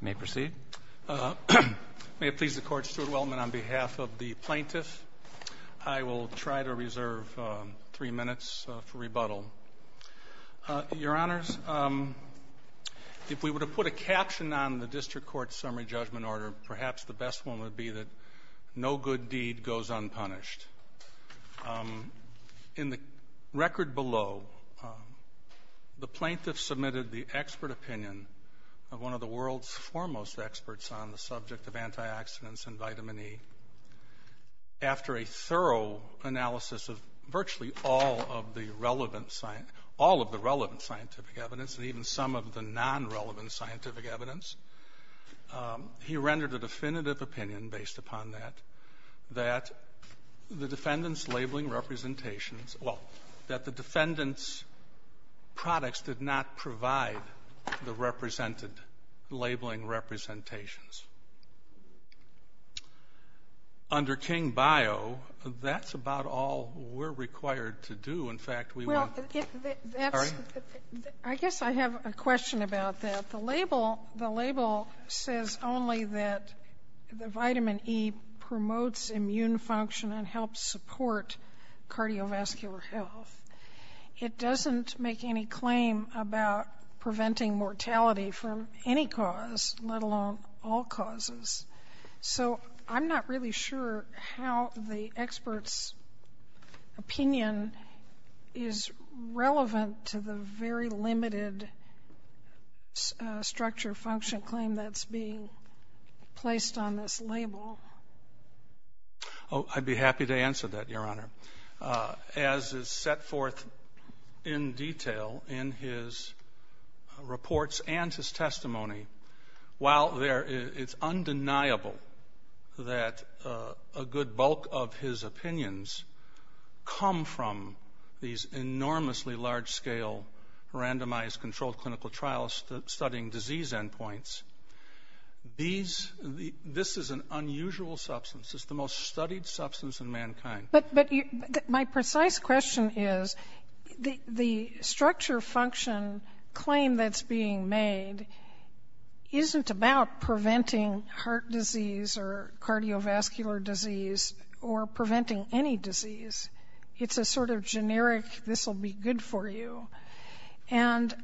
May it please the Court, Stuart Weltman, on behalf of the plaintiffs, I will try to reserve three minutes for rebuttal. Your Honors, if we were to put a caption on the District Court's summary judgment order, perhaps the best one would be that no good deed goes unpunished. In the record below, the plaintiff submitted the expert opinion of one of the world's foremost experts on the subject of antioxidants and vitamin E. After a thorough analysis of virtually all of the relevant scientific evidence, and even some of the non-relevant scientific evidence, he rendered a definitive opinion, based upon that, that the defendants' labeling representations or that the defendants' products did not provide the represented labeling representations. Under King-Bio, that's about all we're required to do. In fact, we want to get the --- label says only that the vitamin E promotes immune function and helps support cardiovascular health. It doesn't make any claim about preventing mortality from any cause, let alone all causes. So I'm not really sure how the expert's opinion is relevant to the very limited structure function claim that's being placed on this label. Oh, I'd be happy to answer that, Your Honor. As is set forth in detail in his reports and his testimony, while there -- it's undeniable that a good bulk of his opinions come from these enormously large-scale, randomized, controlled clinical trials studying disease endpoints, these -- this is an unusual substance. It's the most studied substance in mankind. But my precise question is, the structure function claim that's being made isn't about preventing heart disease or cardiovascular disease or preventing any disease. It's a sort of generic, this will be good for you. And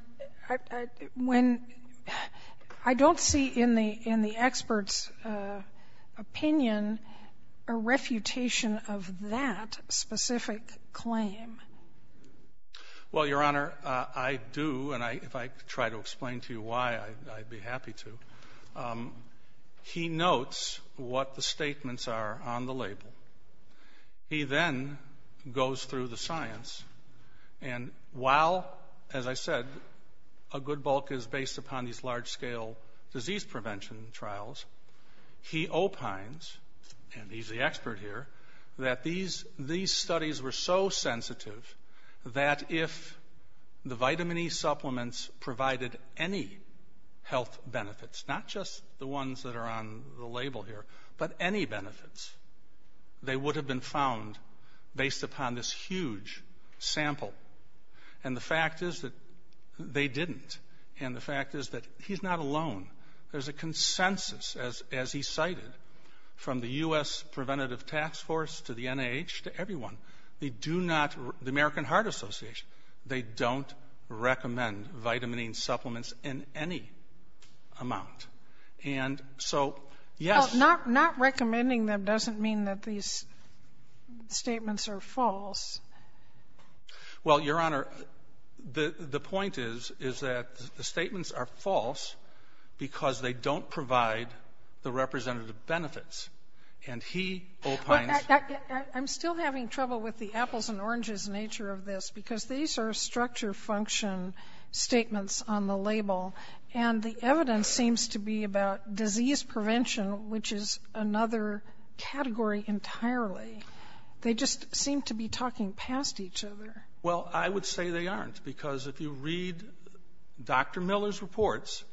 when -- I don't see in the expert's opinion a refutation of that specific claim. Well, Your Honor, I do, and if I try to explain to you why, I'd be happy to. He notes what the statements are on the label. He then goes through the science, and while, as I said, a good bulk is based upon these large-scale disease prevention trials, he opines, and he's the expert here, that these studies were so sensitive that if the vitamin E supplements provided any health benefits, not just the ones that are on the label here, but any benefits, they would have been found based upon this huge sample. And the fact is that they didn't. And the fact is that he's not alone. There's a consensus, as he cited, from the U.S. Preventative Task Force to the NIH to everyone. They do not, the American Heart Association, they don't recommend vitamin E supplements in any amount. And so, yes. Well, not recommending them doesn't mean that these statements are false. Well, Your Honor, the point is, is that the statements are false because they don't provide the representative benefits. And he opines --- Because these are structure function statements on the label, and the evidence seems to be about disease prevention, which is another category entirely. They just seem to be talking past each other. Well, I would say they aren't, because if you read Dr. Miller's reports,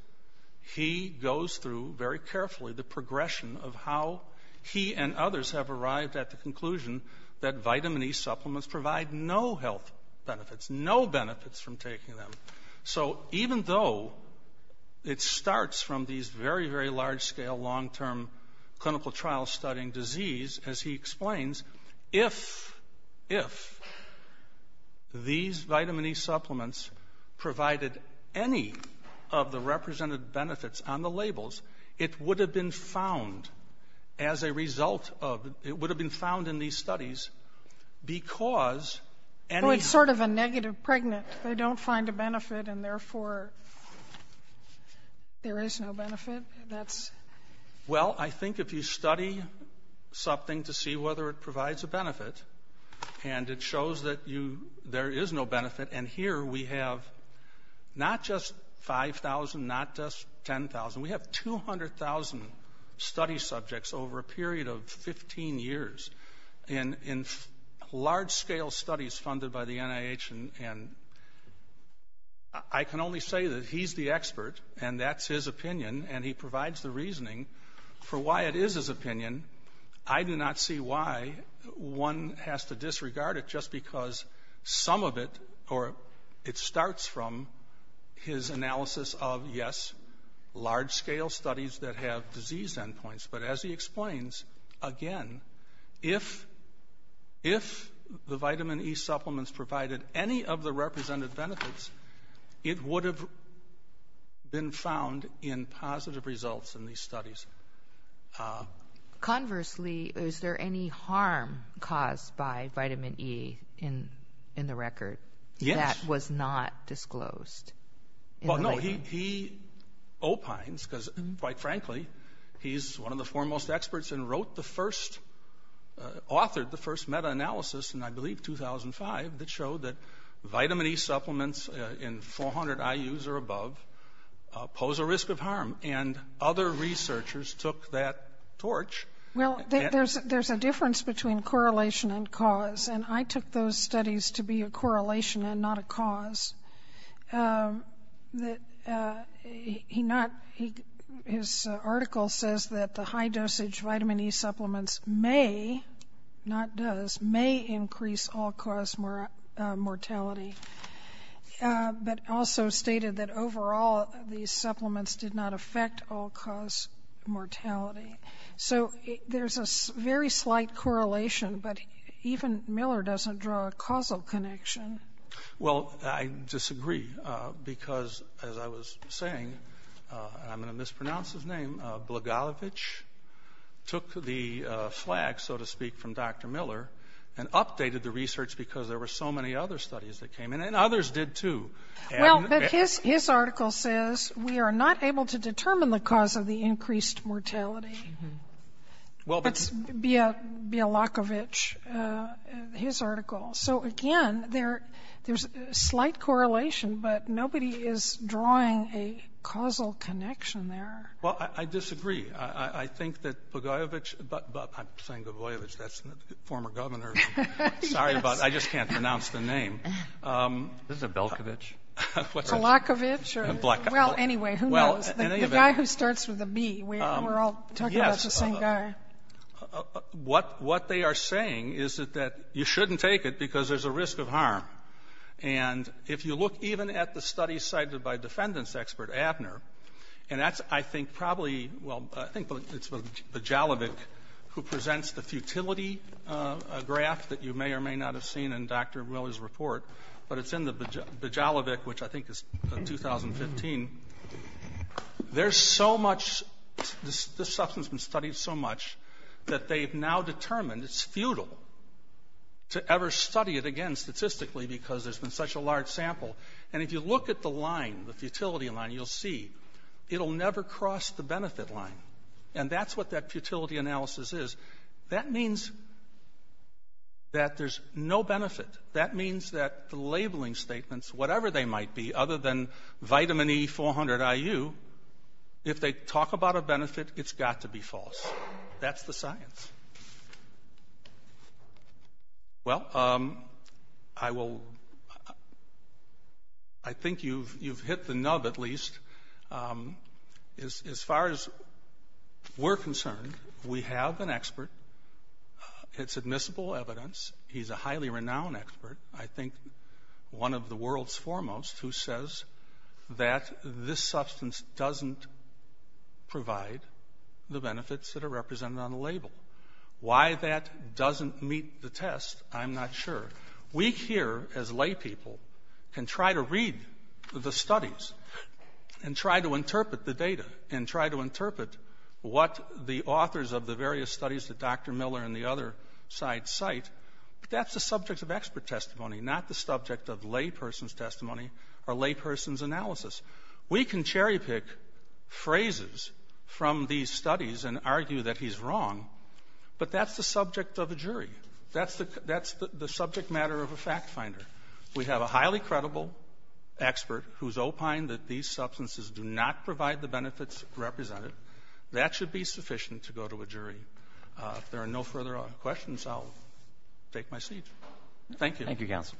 he goes through very carefully the progression of how he and others have arrived at the conclusion that benefits, no benefits from taking them. So even though it starts from these very, very large-scale, long-term clinical trial-studying disease, as he explains, if these vitamin E supplements provided any of the representative benefits on the labels, it would have been found as a result of the --- it would have been found in these studies because any sort of a negative pregnant, they don't find a benefit, and therefore, there is no benefit. That's -- Well, I think if you study something to see whether it provides a benefit, and it shows that you -- there is no benefit, and here we have not just 5,000, not just 10,000. We have 200,000 study subjects over a period of 15 years. And in large-scale studies funded by the NIH, and I can only say that he's the expert, and that's his opinion, and he provides the reasoning for why it is his opinion. I do not see why one has to disregard it just because some of it, or it starts from his analysis of, yes, large-scale studies that have disease endpoints. But as he explains, again, if the vitamin E supplements provided any of the representative benefits, it would have been found in positive results in these studies. Conversely, is there any harm caused by vitamin E in the record that was not disclosed? Well, no. He opines, because, quite frankly, he's one of the foremost experts and wrote the first, authored the first meta-analysis in, I believe, 2005 that showed that vitamin E supplements in 400 IUs or above pose a risk of harm. And other researchers took that torch. Well, there's a difference between correlation and cause, and I took those studies to be correlation and not a cause. His article says that the high-dosage vitamin E supplements may, not does, may increase all-cause mortality, but also stated that overall these supplements did not affect all-cause mortality. So there's a very slight correlation, but even Miller doesn't draw a causal connection. Well, I disagree, because, as I was saying, and I'm going to mispronounce his name, Blagojevich took the flag, so to speak, from Dr. Miller and updated the research because there were so many other studies that came in, and others did, too. Well, but his article says we are not able to determine the cause of the increased mortality. It's Bialakovich, his article. So, again, there's a slight correlation, but nobody is drawing a causal connection there. Well, I disagree. I think that Blagojevich, but I'm saying Blagojevich, that's the former governor. Sorry, but I just can't pronounce the name. This is a Belkovich. Kalakovich? Kalakovich. Well, anyway, who knows? The guy who starts with a B, we're all talking about the same guy. Yes. What they are saying is that you shouldn't take it because there's a risk of harm. And if you look even at the studies cited by defendants expert Abner, and that's, I think, probably, well, I think it's Bajalovic who presents the futility graph that you may or may not have seen in Dr. Miller's report, but it's in the Bajalovic which I think is 2015, there's so much, this substance has been studied so much that they've now determined it's futile to ever study it again statistically because there's been such a large sample. And if you look at the line, the futility line, you'll see it'll never cross the benefit line. And that's what that futility analysis is. That means that there's no benefit. That means that the labeling statements, whatever they might be, other than vitamin E400IU, if they talk about a benefit, it's got to be false. That's the science. Well, I will, I think you've hit the nub at least. As far as we're concerned, we have an expert. It's admissible evidence. He's a highly renowned expert, I think one of the world's foremost, who says that this substance doesn't provide the benefits that are represented on the label. Why that doesn't meet the test, I'm not sure. We here, as laypeople, can try to read the studies and try to interpret the data and try to interpret what the authors of the various studies that Dr. Miller and the other side cite, but that's the subject of expert testimony, not the subject of layperson's testimony or layperson's analysis. We can cherry-pick phrases from these studies and argue that he's wrong, but that's the subject of a jury. That's the subject matter of a fact-finder. We have a highly credible expert who's opined that these substances do not provide the benefits represented. That should be sufficient to go to a jury. If there are no further questions, I'll take my seat. Thank you. Roberts. Thank you, counsel.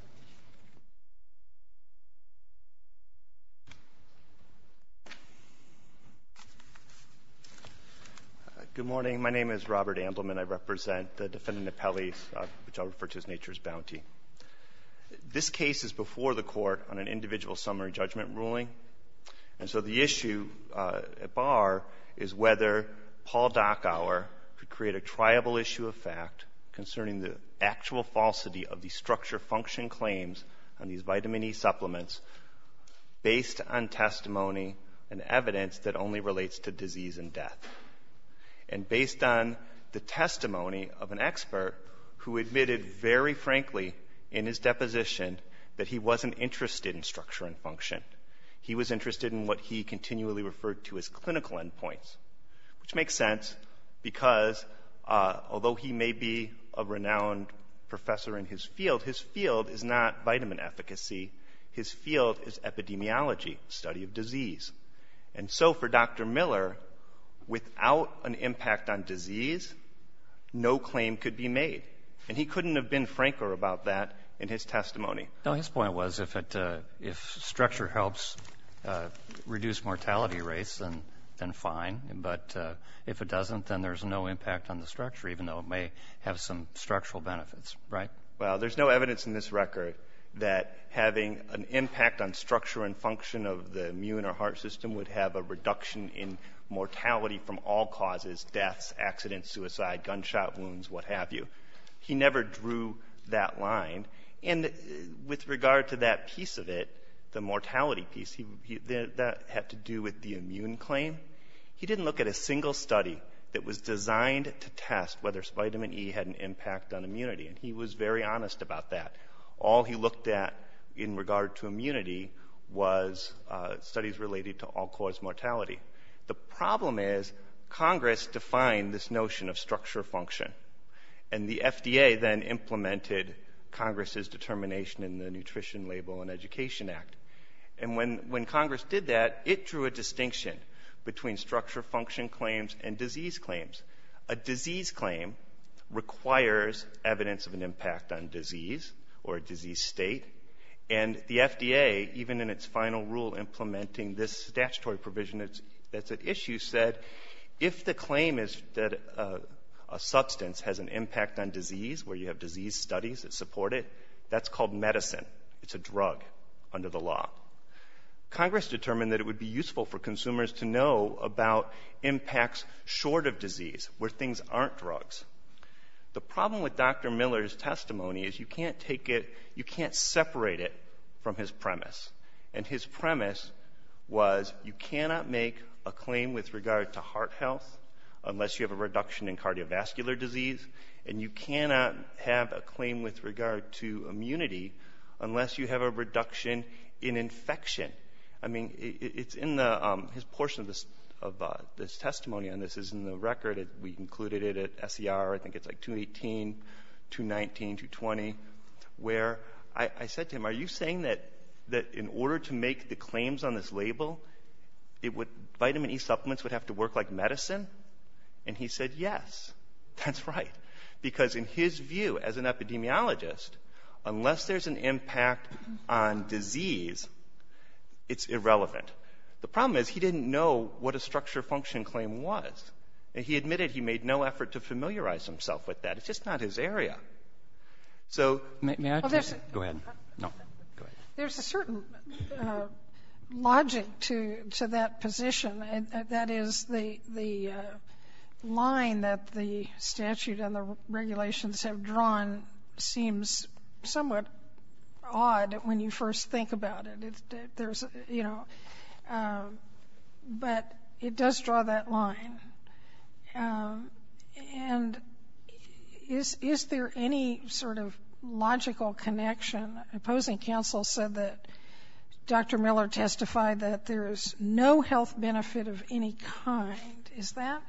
Good morning. My name is Robert Ambleman. I represent the defendant, Napelis, which I'll refer to as Nature's Bounty. This case is before the Court on an individual summary judgment ruling. And so the issue at bar is whether Paul Dockour could create a triable issue of fact concerning the actual falsity of the structure-function claims on these vitamin E supplements based on testimony and evidence that only relates to disease and death, and based on the testimony of an expert who admitted very frankly in his deposition that he wasn't interested in structure and function. He was interested in what he continually referred to as clinical endpoints, which makes sense because although he may be a renowned professor in his field, his field is not vitamin efficacy. His field is epidemiology, study of disease. And so for Dr. Miller, without an impact on disease, no claim could be made. And he couldn't have been franker about that in his testimony. Now, his point was if it — if structure helps reduce mortality rates, then fine. But if it doesn't, then there's no impact on the structure, even though it may have some structural benefits, right? Well, there's no evidence in this record that having an impact on structure and function of the immune or heart system would have a reduction in mortality from all causes, deaths, accidents, suicide, gunshot wounds, what have you. He never drew that line. And with regard to that piece of it, the mortality piece, that had to do with the immune claim, he didn't look at a single study that was designed to test whether vitamin E had an impact on immunity. And he was very honest about that. All he looked at in regard to immunity was studies related to all-cause mortality. The problem is Congress defined this notion of structure-function. And the FDA then implemented Congress's determination in the Nutrition Label and Education Act. And when Congress did that, it drew a distinction between structure-function claims and disease claims. A disease claim requires evidence of an impact on disease or a disease state. And the FDA, even in its final rule implementing this statutory provision that's at issue, said if the claim is that a substance has an impact on disease, where you have disease studies that support it, that's called medicine. It's a drug under the law. Congress determined that it would be useful for consumers to know about impacts short of disease, where things aren't drugs. The problem with Dr. Miller's testimony is you can't take it, you can't separate it from his premise. And his premise was you cannot make a claim with regard to heart health unless you have a reduction in cardiovascular disease. And you cannot have a claim with regard to immunity unless you have a reduction in infection. I mean, it's in his portion of this testimony, and this is in the record. We included it at SER. I think it's like 218, 219, 220, where I said to him, are you saying that in order to make the claims on this label, vitamin E supplements would have to work like medicine? And he said yes, that's right. Because in his view, as an epidemiologist, unless there's an impact on disease, it's irrelevant. The problem is he didn't know what a structure-function claim was. And he admitted he made no effort to familiarize himself with that. It's just not his area. So there's a certain logic to that position, and that is the line that the statute and the regulations have drawn seems somewhat odd when you first think about it. There's, you know, but it does draw that line. And is there any sort of logical connection? Opposing counsel said that Dr. Miller testified that there is no health benefit of any kind. Is that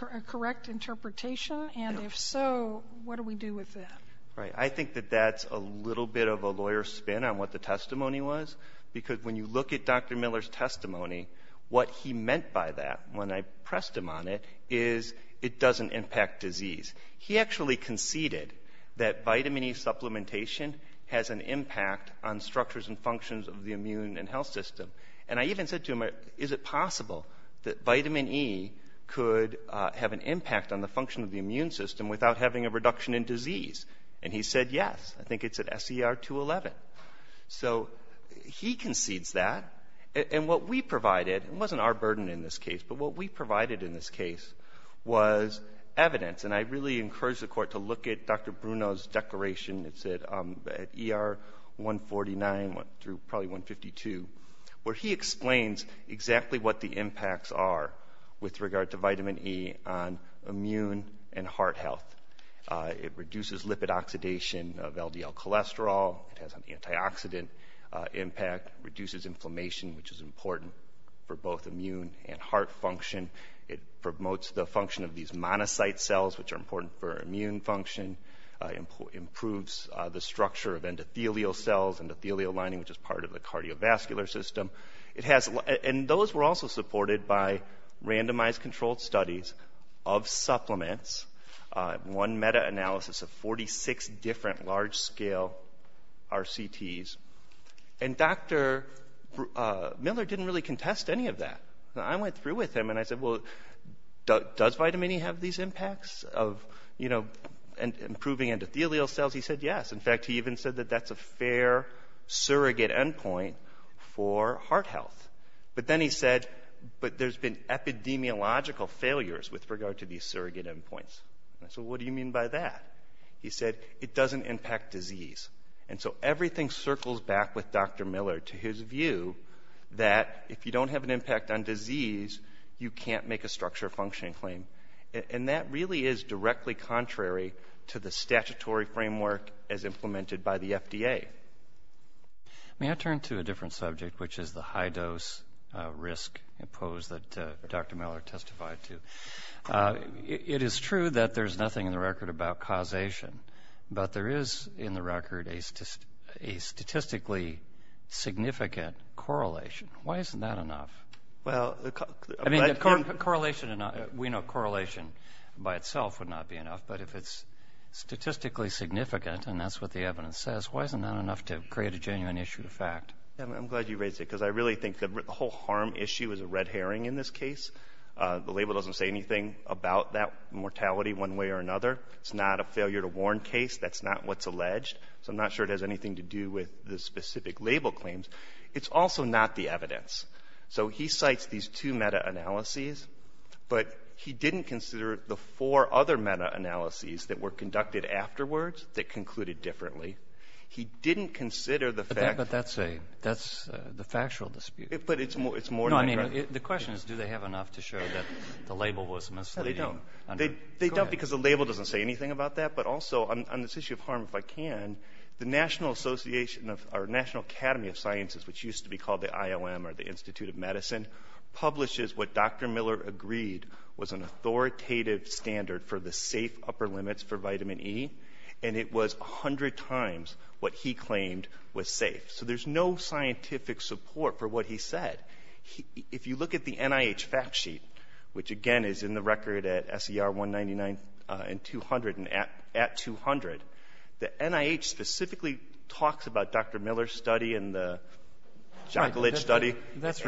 a correct interpretation? And if so, what do we do with that? Right. I think that that's a little bit of a lawyer's spin on what the testimony was, because when you look at Dr. Miller's testimony, what he meant by that when I pressed him on it is it doesn't impact disease. He actually conceded that vitamin E supplementation has an impact on structures and functions of the immune and health system. And I even said to him, is it possible that vitamin E could have an impact on the function of the immune system without having a reduction in disease? And he said yes. I think it's at SER 211. So he concedes that. And what we provided, it wasn't our burden in this case, but what we provided in this case was evidence. And I really encourage the court to look at Dr. Bruno's declaration. It's at ER 149 through probably 152, where he explains exactly what the impacts are with regard to vitamin E on immune and heart health. It reduces lipid oxidation of LDL cholesterol. It has an antioxidant impact, reduces inflammation, which is important for both immune and heart function. It promotes the function of these monocyte cells, which are important for immune function. Improves the structure of endothelial cells, endothelial lining, which is part of the cardiovascular system. And those were also supported by randomized controlled studies of supplements. One meta-analysis of 46 different large-scale RCTs. And Dr. Miller didn't really contest any of that. I went through with him and I said, well, does vitamin E have these impacts of, you know, improving endothelial cells? He said yes. In fact, he even said that that's a fair surrogate endpoint for heart health. But then he said, but there's been epidemiological failures with regard to these surrogate endpoints. I said, well, what do you mean by that? He said, it doesn't impact disease. And so everything circles back with Dr. Miller to his view that if you don't have an impact on disease, you can't make a structure functioning claim. And that really is directly contrary to the statutory framework as implemented by the FDA. May I turn to a different subject, which is the high-dose risk pose that Dr. Miller testified to. It is true that there's nothing in the record about causation, but there is in the record a statistically significant correlation. Why isn't that enough? I mean, correlation, we know correlation by itself would not be enough, but if it's statistically significant, and that's what the evidence says, why isn't that enough to create a genuine issue of fact? I'm glad you raised it, because I really think that the whole harm issue is a red herring in this case. The label doesn't say anything about that mortality one way or another. It's not a failure-to-warn case. That's not what's alleged. So I'm not sure it has anything to do with the specific label claims. It's also not the evidence. So he cites these two meta-analyses, but he didn't consider the four other meta-analyses that were conducted afterwards that concluded differently. He didn't consider the fact that that's the factual dispute. But it's more than that. No, I mean, the question is, do they have enough to show that the label was misleading? No, they don't. Go ahead. They don't, because the label doesn't say anything about that. But also, on this issue of harm, if I can, the National Academy of Sciences, which used to be called the IOM or the Institute of Medicine, publishes what Dr. Miller agreed was an authoritative standard for the safe upper limits for vitamin E, and it was 100 times what he claimed was safe. So there's no scientific support for what he said. If you look at the NIH fact sheet, which, again, is in the record at SER 199 and 200 and at 200, the NIH specifically talks about Dr. Miller's study and the Jackalidge study. That's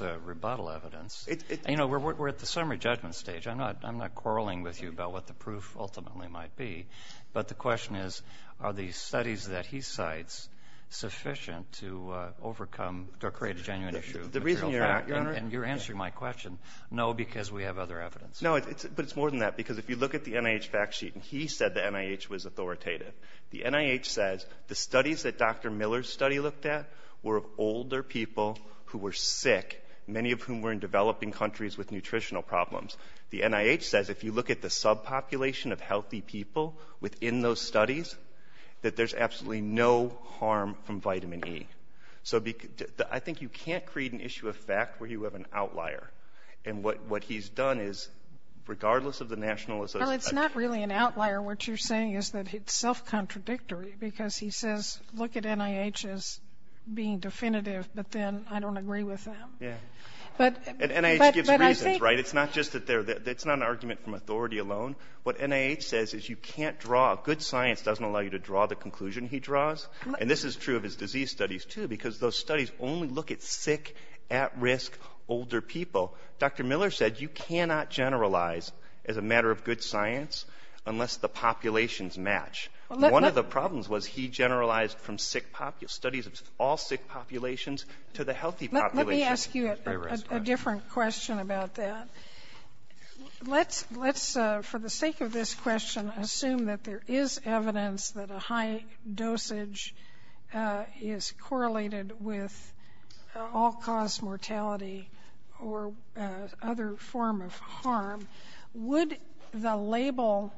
rebuttal evidence. You know, we're at the summary judgment stage. I'm not quarreling with you about what the proof ultimately might be. But the question is, are the studies that he cites sufficient to overcome or create a genuine issue of material fact? And you're answering my question, no, because we have other evidence. No, but it's more than that, because if you look at the NIH fact sheet, and he said the NIH was authoritative. The NIH says the studies that Dr. Miller's study looked at were of older people who were sick, many of whom were in developing countries with nutritional problems. The NIH says if you look at the subpopulation of healthy people within those studies, that there's absolutely no harm from vitamin E. So I think you can't create an issue of fact where you have an outlier. And what he's done is, regardless of the nationalism of that study. Well, it's not really an outlier. What you're saying is that it's self-contradictory, because he says, look at NIH as being definitive, but then I don't agree with them. Yeah. And NIH gives reasons, right? It's not just that they're – it's not an argument from authority alone. What NIH says is you can't draw – good science doesn't allow you to draw the conclusion he draws. And this is true of his disease studies, too, because those studies only look at sick, at-risk, older people. Dr. Miller said you cannot generalize as a matter of good science unless the populations match. One of the problems was he generalized from sick – studies of all sick populations to the healthy population. Let me ask you a different question about that. Let's, for the sake of this question, assume that there is evidence that a high dosage is correlated with all-cause mortality or other form of harm. Would the label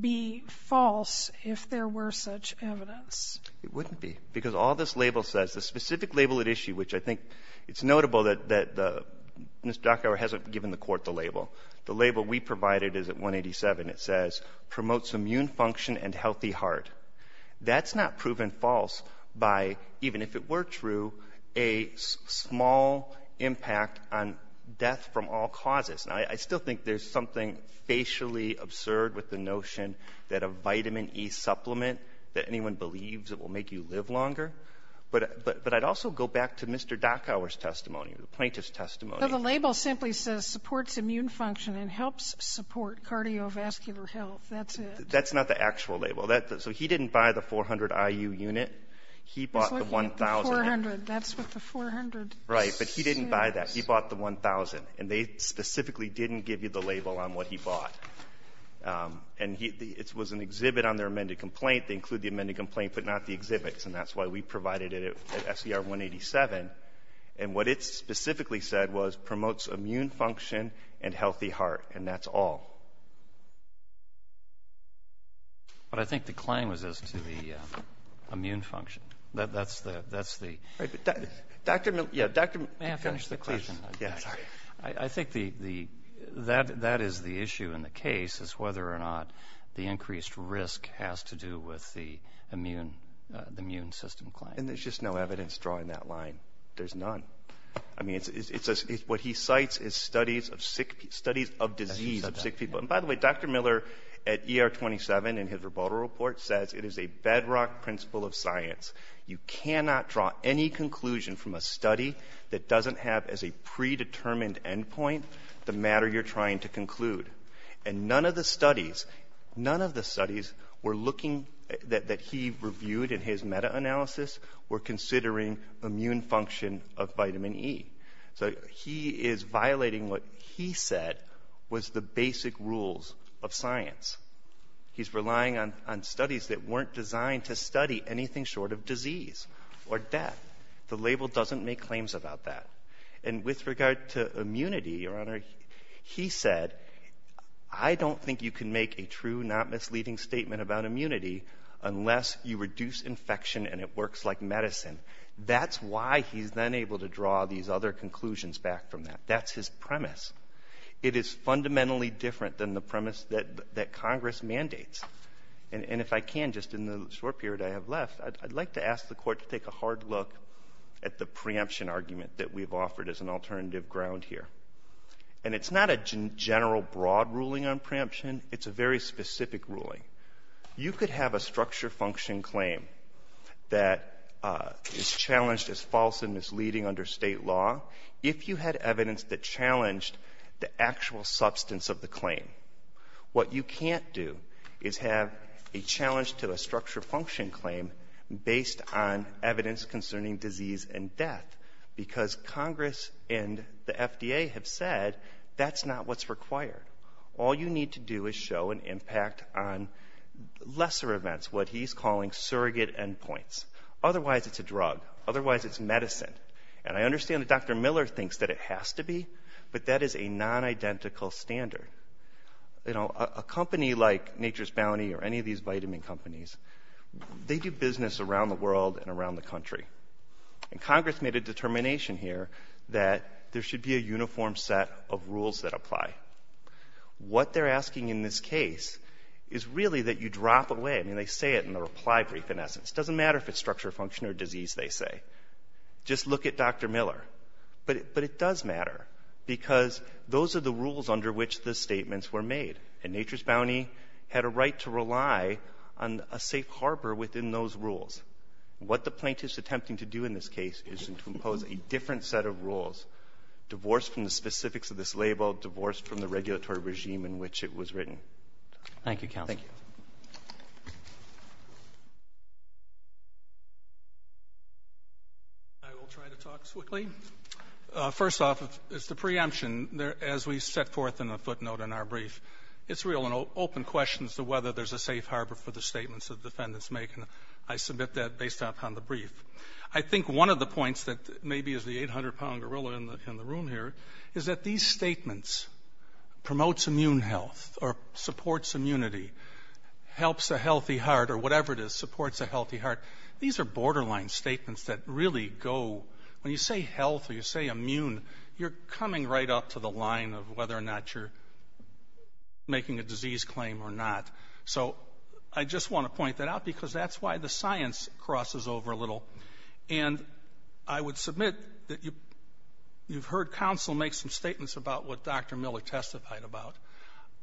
be false if there were such evidence? It wouldn't be, because all this label says, the specific label at issue, which I think it's notable that Mr. Docker hasn't given the court the label. The label we provided is at 187. It says, promotes immune function and healthy heart. That's not proven false by, even if it were true, a small impact on death from all causes. Now, I still think there's something facially absurd with the notion that a vitamin E supplement that anyone believes it will make you live longer. But I'd also go back to Mr. Docker's testimony, the plaintiff's testimony. But the label simply says supports immune function and helps support cardiovascular health. That's it. That's not the actual label. So he didn't buy the 400 IU unit. He bought the 1,000. He's looking at the 400. That's what the 400 says. Right. But he didn't buy that. He bought the 1,000. And they specifically didn't give you the label on what he bought. And it was an exhibit on their amended complaint. They include the amended complaint, but not the exhibits. And that's why we provided it at SCR 187. And what it specifically said was promotes immune function and healthy heart. And that's all. But I think the claim was as to the immune function. That's the ‑‑ Right. But Dr. Miller ‑‑ May I finish the question? Yes. Sorry. I think that is the issue in the case, is whether or not the increased risk has to do with the immune system claim. And there's just no evidence drawing that line. There's none. I mean, what he cites is studies of disease of sick people. And, by the way, Dr. Miller at ER 27 in his rebuttal report says it is a bedrock principle of science. You cannot draw any conclusion from a study that doesn't have as a predetermined end point the matter you're trying to conclude. And none of the studies, none of the studies were looking ‑‑ that he reviewed in his meta‑analysis were considering immune function of vitamin E. So he is violating what he said was the basic rules of science. He's relying on studies that weren't designed to study anything short of disease or death. The label doesn't make claims about that. And with regard to immunity, Your Honor, he said, I don't think you can make a true, not misleading statement about immunity unless you reduce infection and it works like medicine. That's why he's then able to draw these other conclusions back from that. That's his premise. It is fundamentally different than the premise that Congress mandates. And if I can, just in the short period I have left, I'd like to ask the Court to take a hard look at the preemption argument that we've offered as an alternative ground here. And it's not a general broad ruling on preemption. It's a very specific ruling. You could have a structure function claim that is challenged as false and misleading under State law if you had evidence that challenged the actual substance of the claim. What you can't do is have a challenge to a structure function claim based on evidence concerning disease and death, because Congress and the FDA have said that's not what's required. All you need to do is show an impact on lesser events, what he's calling surrogate endpoints. Otherwise, it's a drug. Otherwise, it's medicine. And I understand that Dr. Miller thinks that it has to be, but that is a non-identical standard. You know, a company like Nature's Bounty or any of these vitamin companies, they do business around the world and around the country. And Congress made a determination here that there should be a uniform set of rules that apply. What they're asking in this case is really that you drop away. I mean, they say it in the reply brief, in essence. It doesn't matter if it's structure function or disease, they say. Just look at Dr. Miller. But it does matter because those are the rules under which the statements were made. And Nature's Bounty had a right to rely on a safe harbor within those rules. What the plaintiff is attempting to do in this case is to impose a different set of rules, divorced from the specifics of this label, divorced from the regulatory regime in which it was written. Thank you, counsel. Thank you. I will try to talk quickly. First off is the preemption. As we set forth in the footnote in our brief, it's real and open questions to whether there's a safe harbor for the statements that defendants make. And I submit that based upon the brief. I think one of the points that maybe is the 800-pound gorilla in the room here is that these statements, promotes immune health or supports immunity, helps a healthy heart or whatever it is, supports a healthy heart, these are borderline statements that really go. When you say health or you say immune, you're coming right up to the line of whether or not you're making a disease claim or not. So I just want to point that out because that's why the science crosses over a little. And I would submit that you've heard counsel make some statements about what Dr. Miller testified about.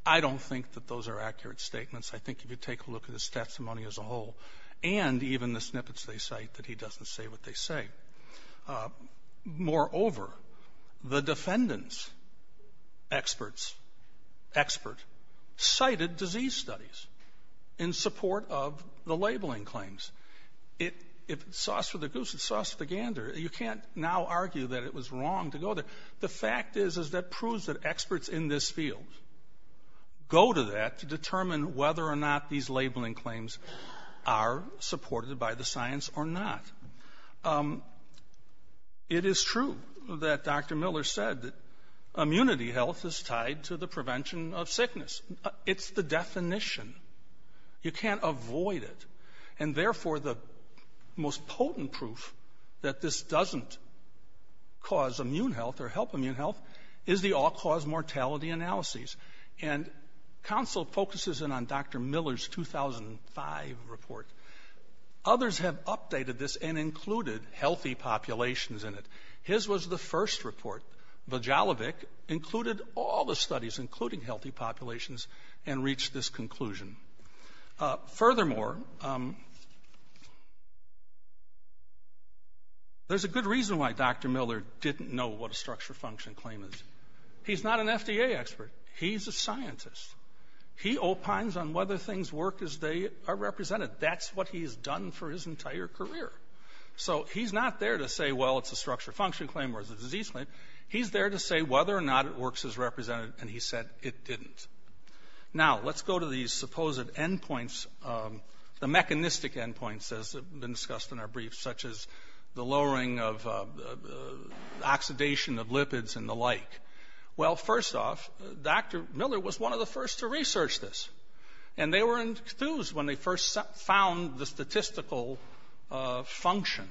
I don't think that those are accurate statements. I think if you take a look at his testimony as a whole and even the snippets they cite that he doesn't say what they say. Moreover, the defendants' experts cited disease studies in support of the labeling claims. If it's sauce for the goose, it's sauce for the gander. You can't now argue that it was wrong to go there. The fact is, is that proves that experts in this field go to that to determine whether or not these labeling claims are supported by the science or not. It is true that Dr. Miller said that immunity health is tied to the prevention of sickness. It's the definition. You can't avoid it. And therefore, the most potent proof that this doesn't cause immune health or help immune health is the all-cause mortality analyses. And counsel focuses in on Dr. Miller's 2005 report. Others have updated this and included healthy populations in it. His was the first report. Vajalovic included all the studies, including healthy populations, and reached this conclusion. Furthermore, there's a good reason why Dr. Miller didn't know what a structure function claim is. He's not an FDA expert. He's a scientist. He opines on whether things work as they are represented. That's what he's done for his entire career. So he's not there to say, well, it's a structure function claim or it's a disease claim. He's there to say whether or not it works as represented, and he said it didn't. Now, let's go to these supposed endpoints, the mechanistic endpoints, as discussed in our brief, such as the lowering of oxidation of lipids and the like. Well, first off, Dr. Miller was one of the first to research this. And they were enthused when they first found the statistical function.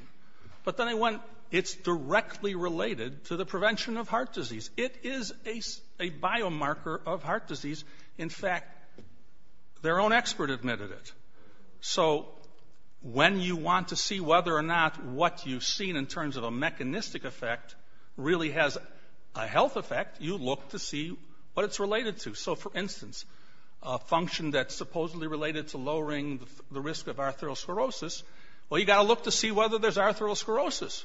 But then they went, it's directly related to the prevention of heart disease. It is a biomarker of heart disease. In fact, their own expert admitted it. So when you want to see whether or not what you've seen in terms of a mechanistic effect really has a health effect, you look to see what it's related to. So, for instance, a function that's supposedly related to lowering the risk of arthrosclerosis, well, you've got to look to see whether there's arthrosclerosis.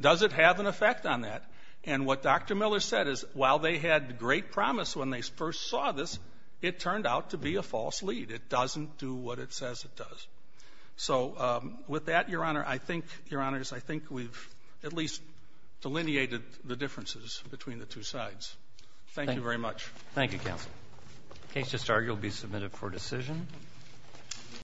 Does it have an effect on that? And what Dr. Miller said is while they had great promise when they first saw this, it turned out to be a false lead. It doesn't do what it says it does. So with that, Your Honor, I think, Your Honors, I think we've at least delineated the differences between the two sides. Thank you very much. Thank you, counsel. The case just argued will be submitted for decision.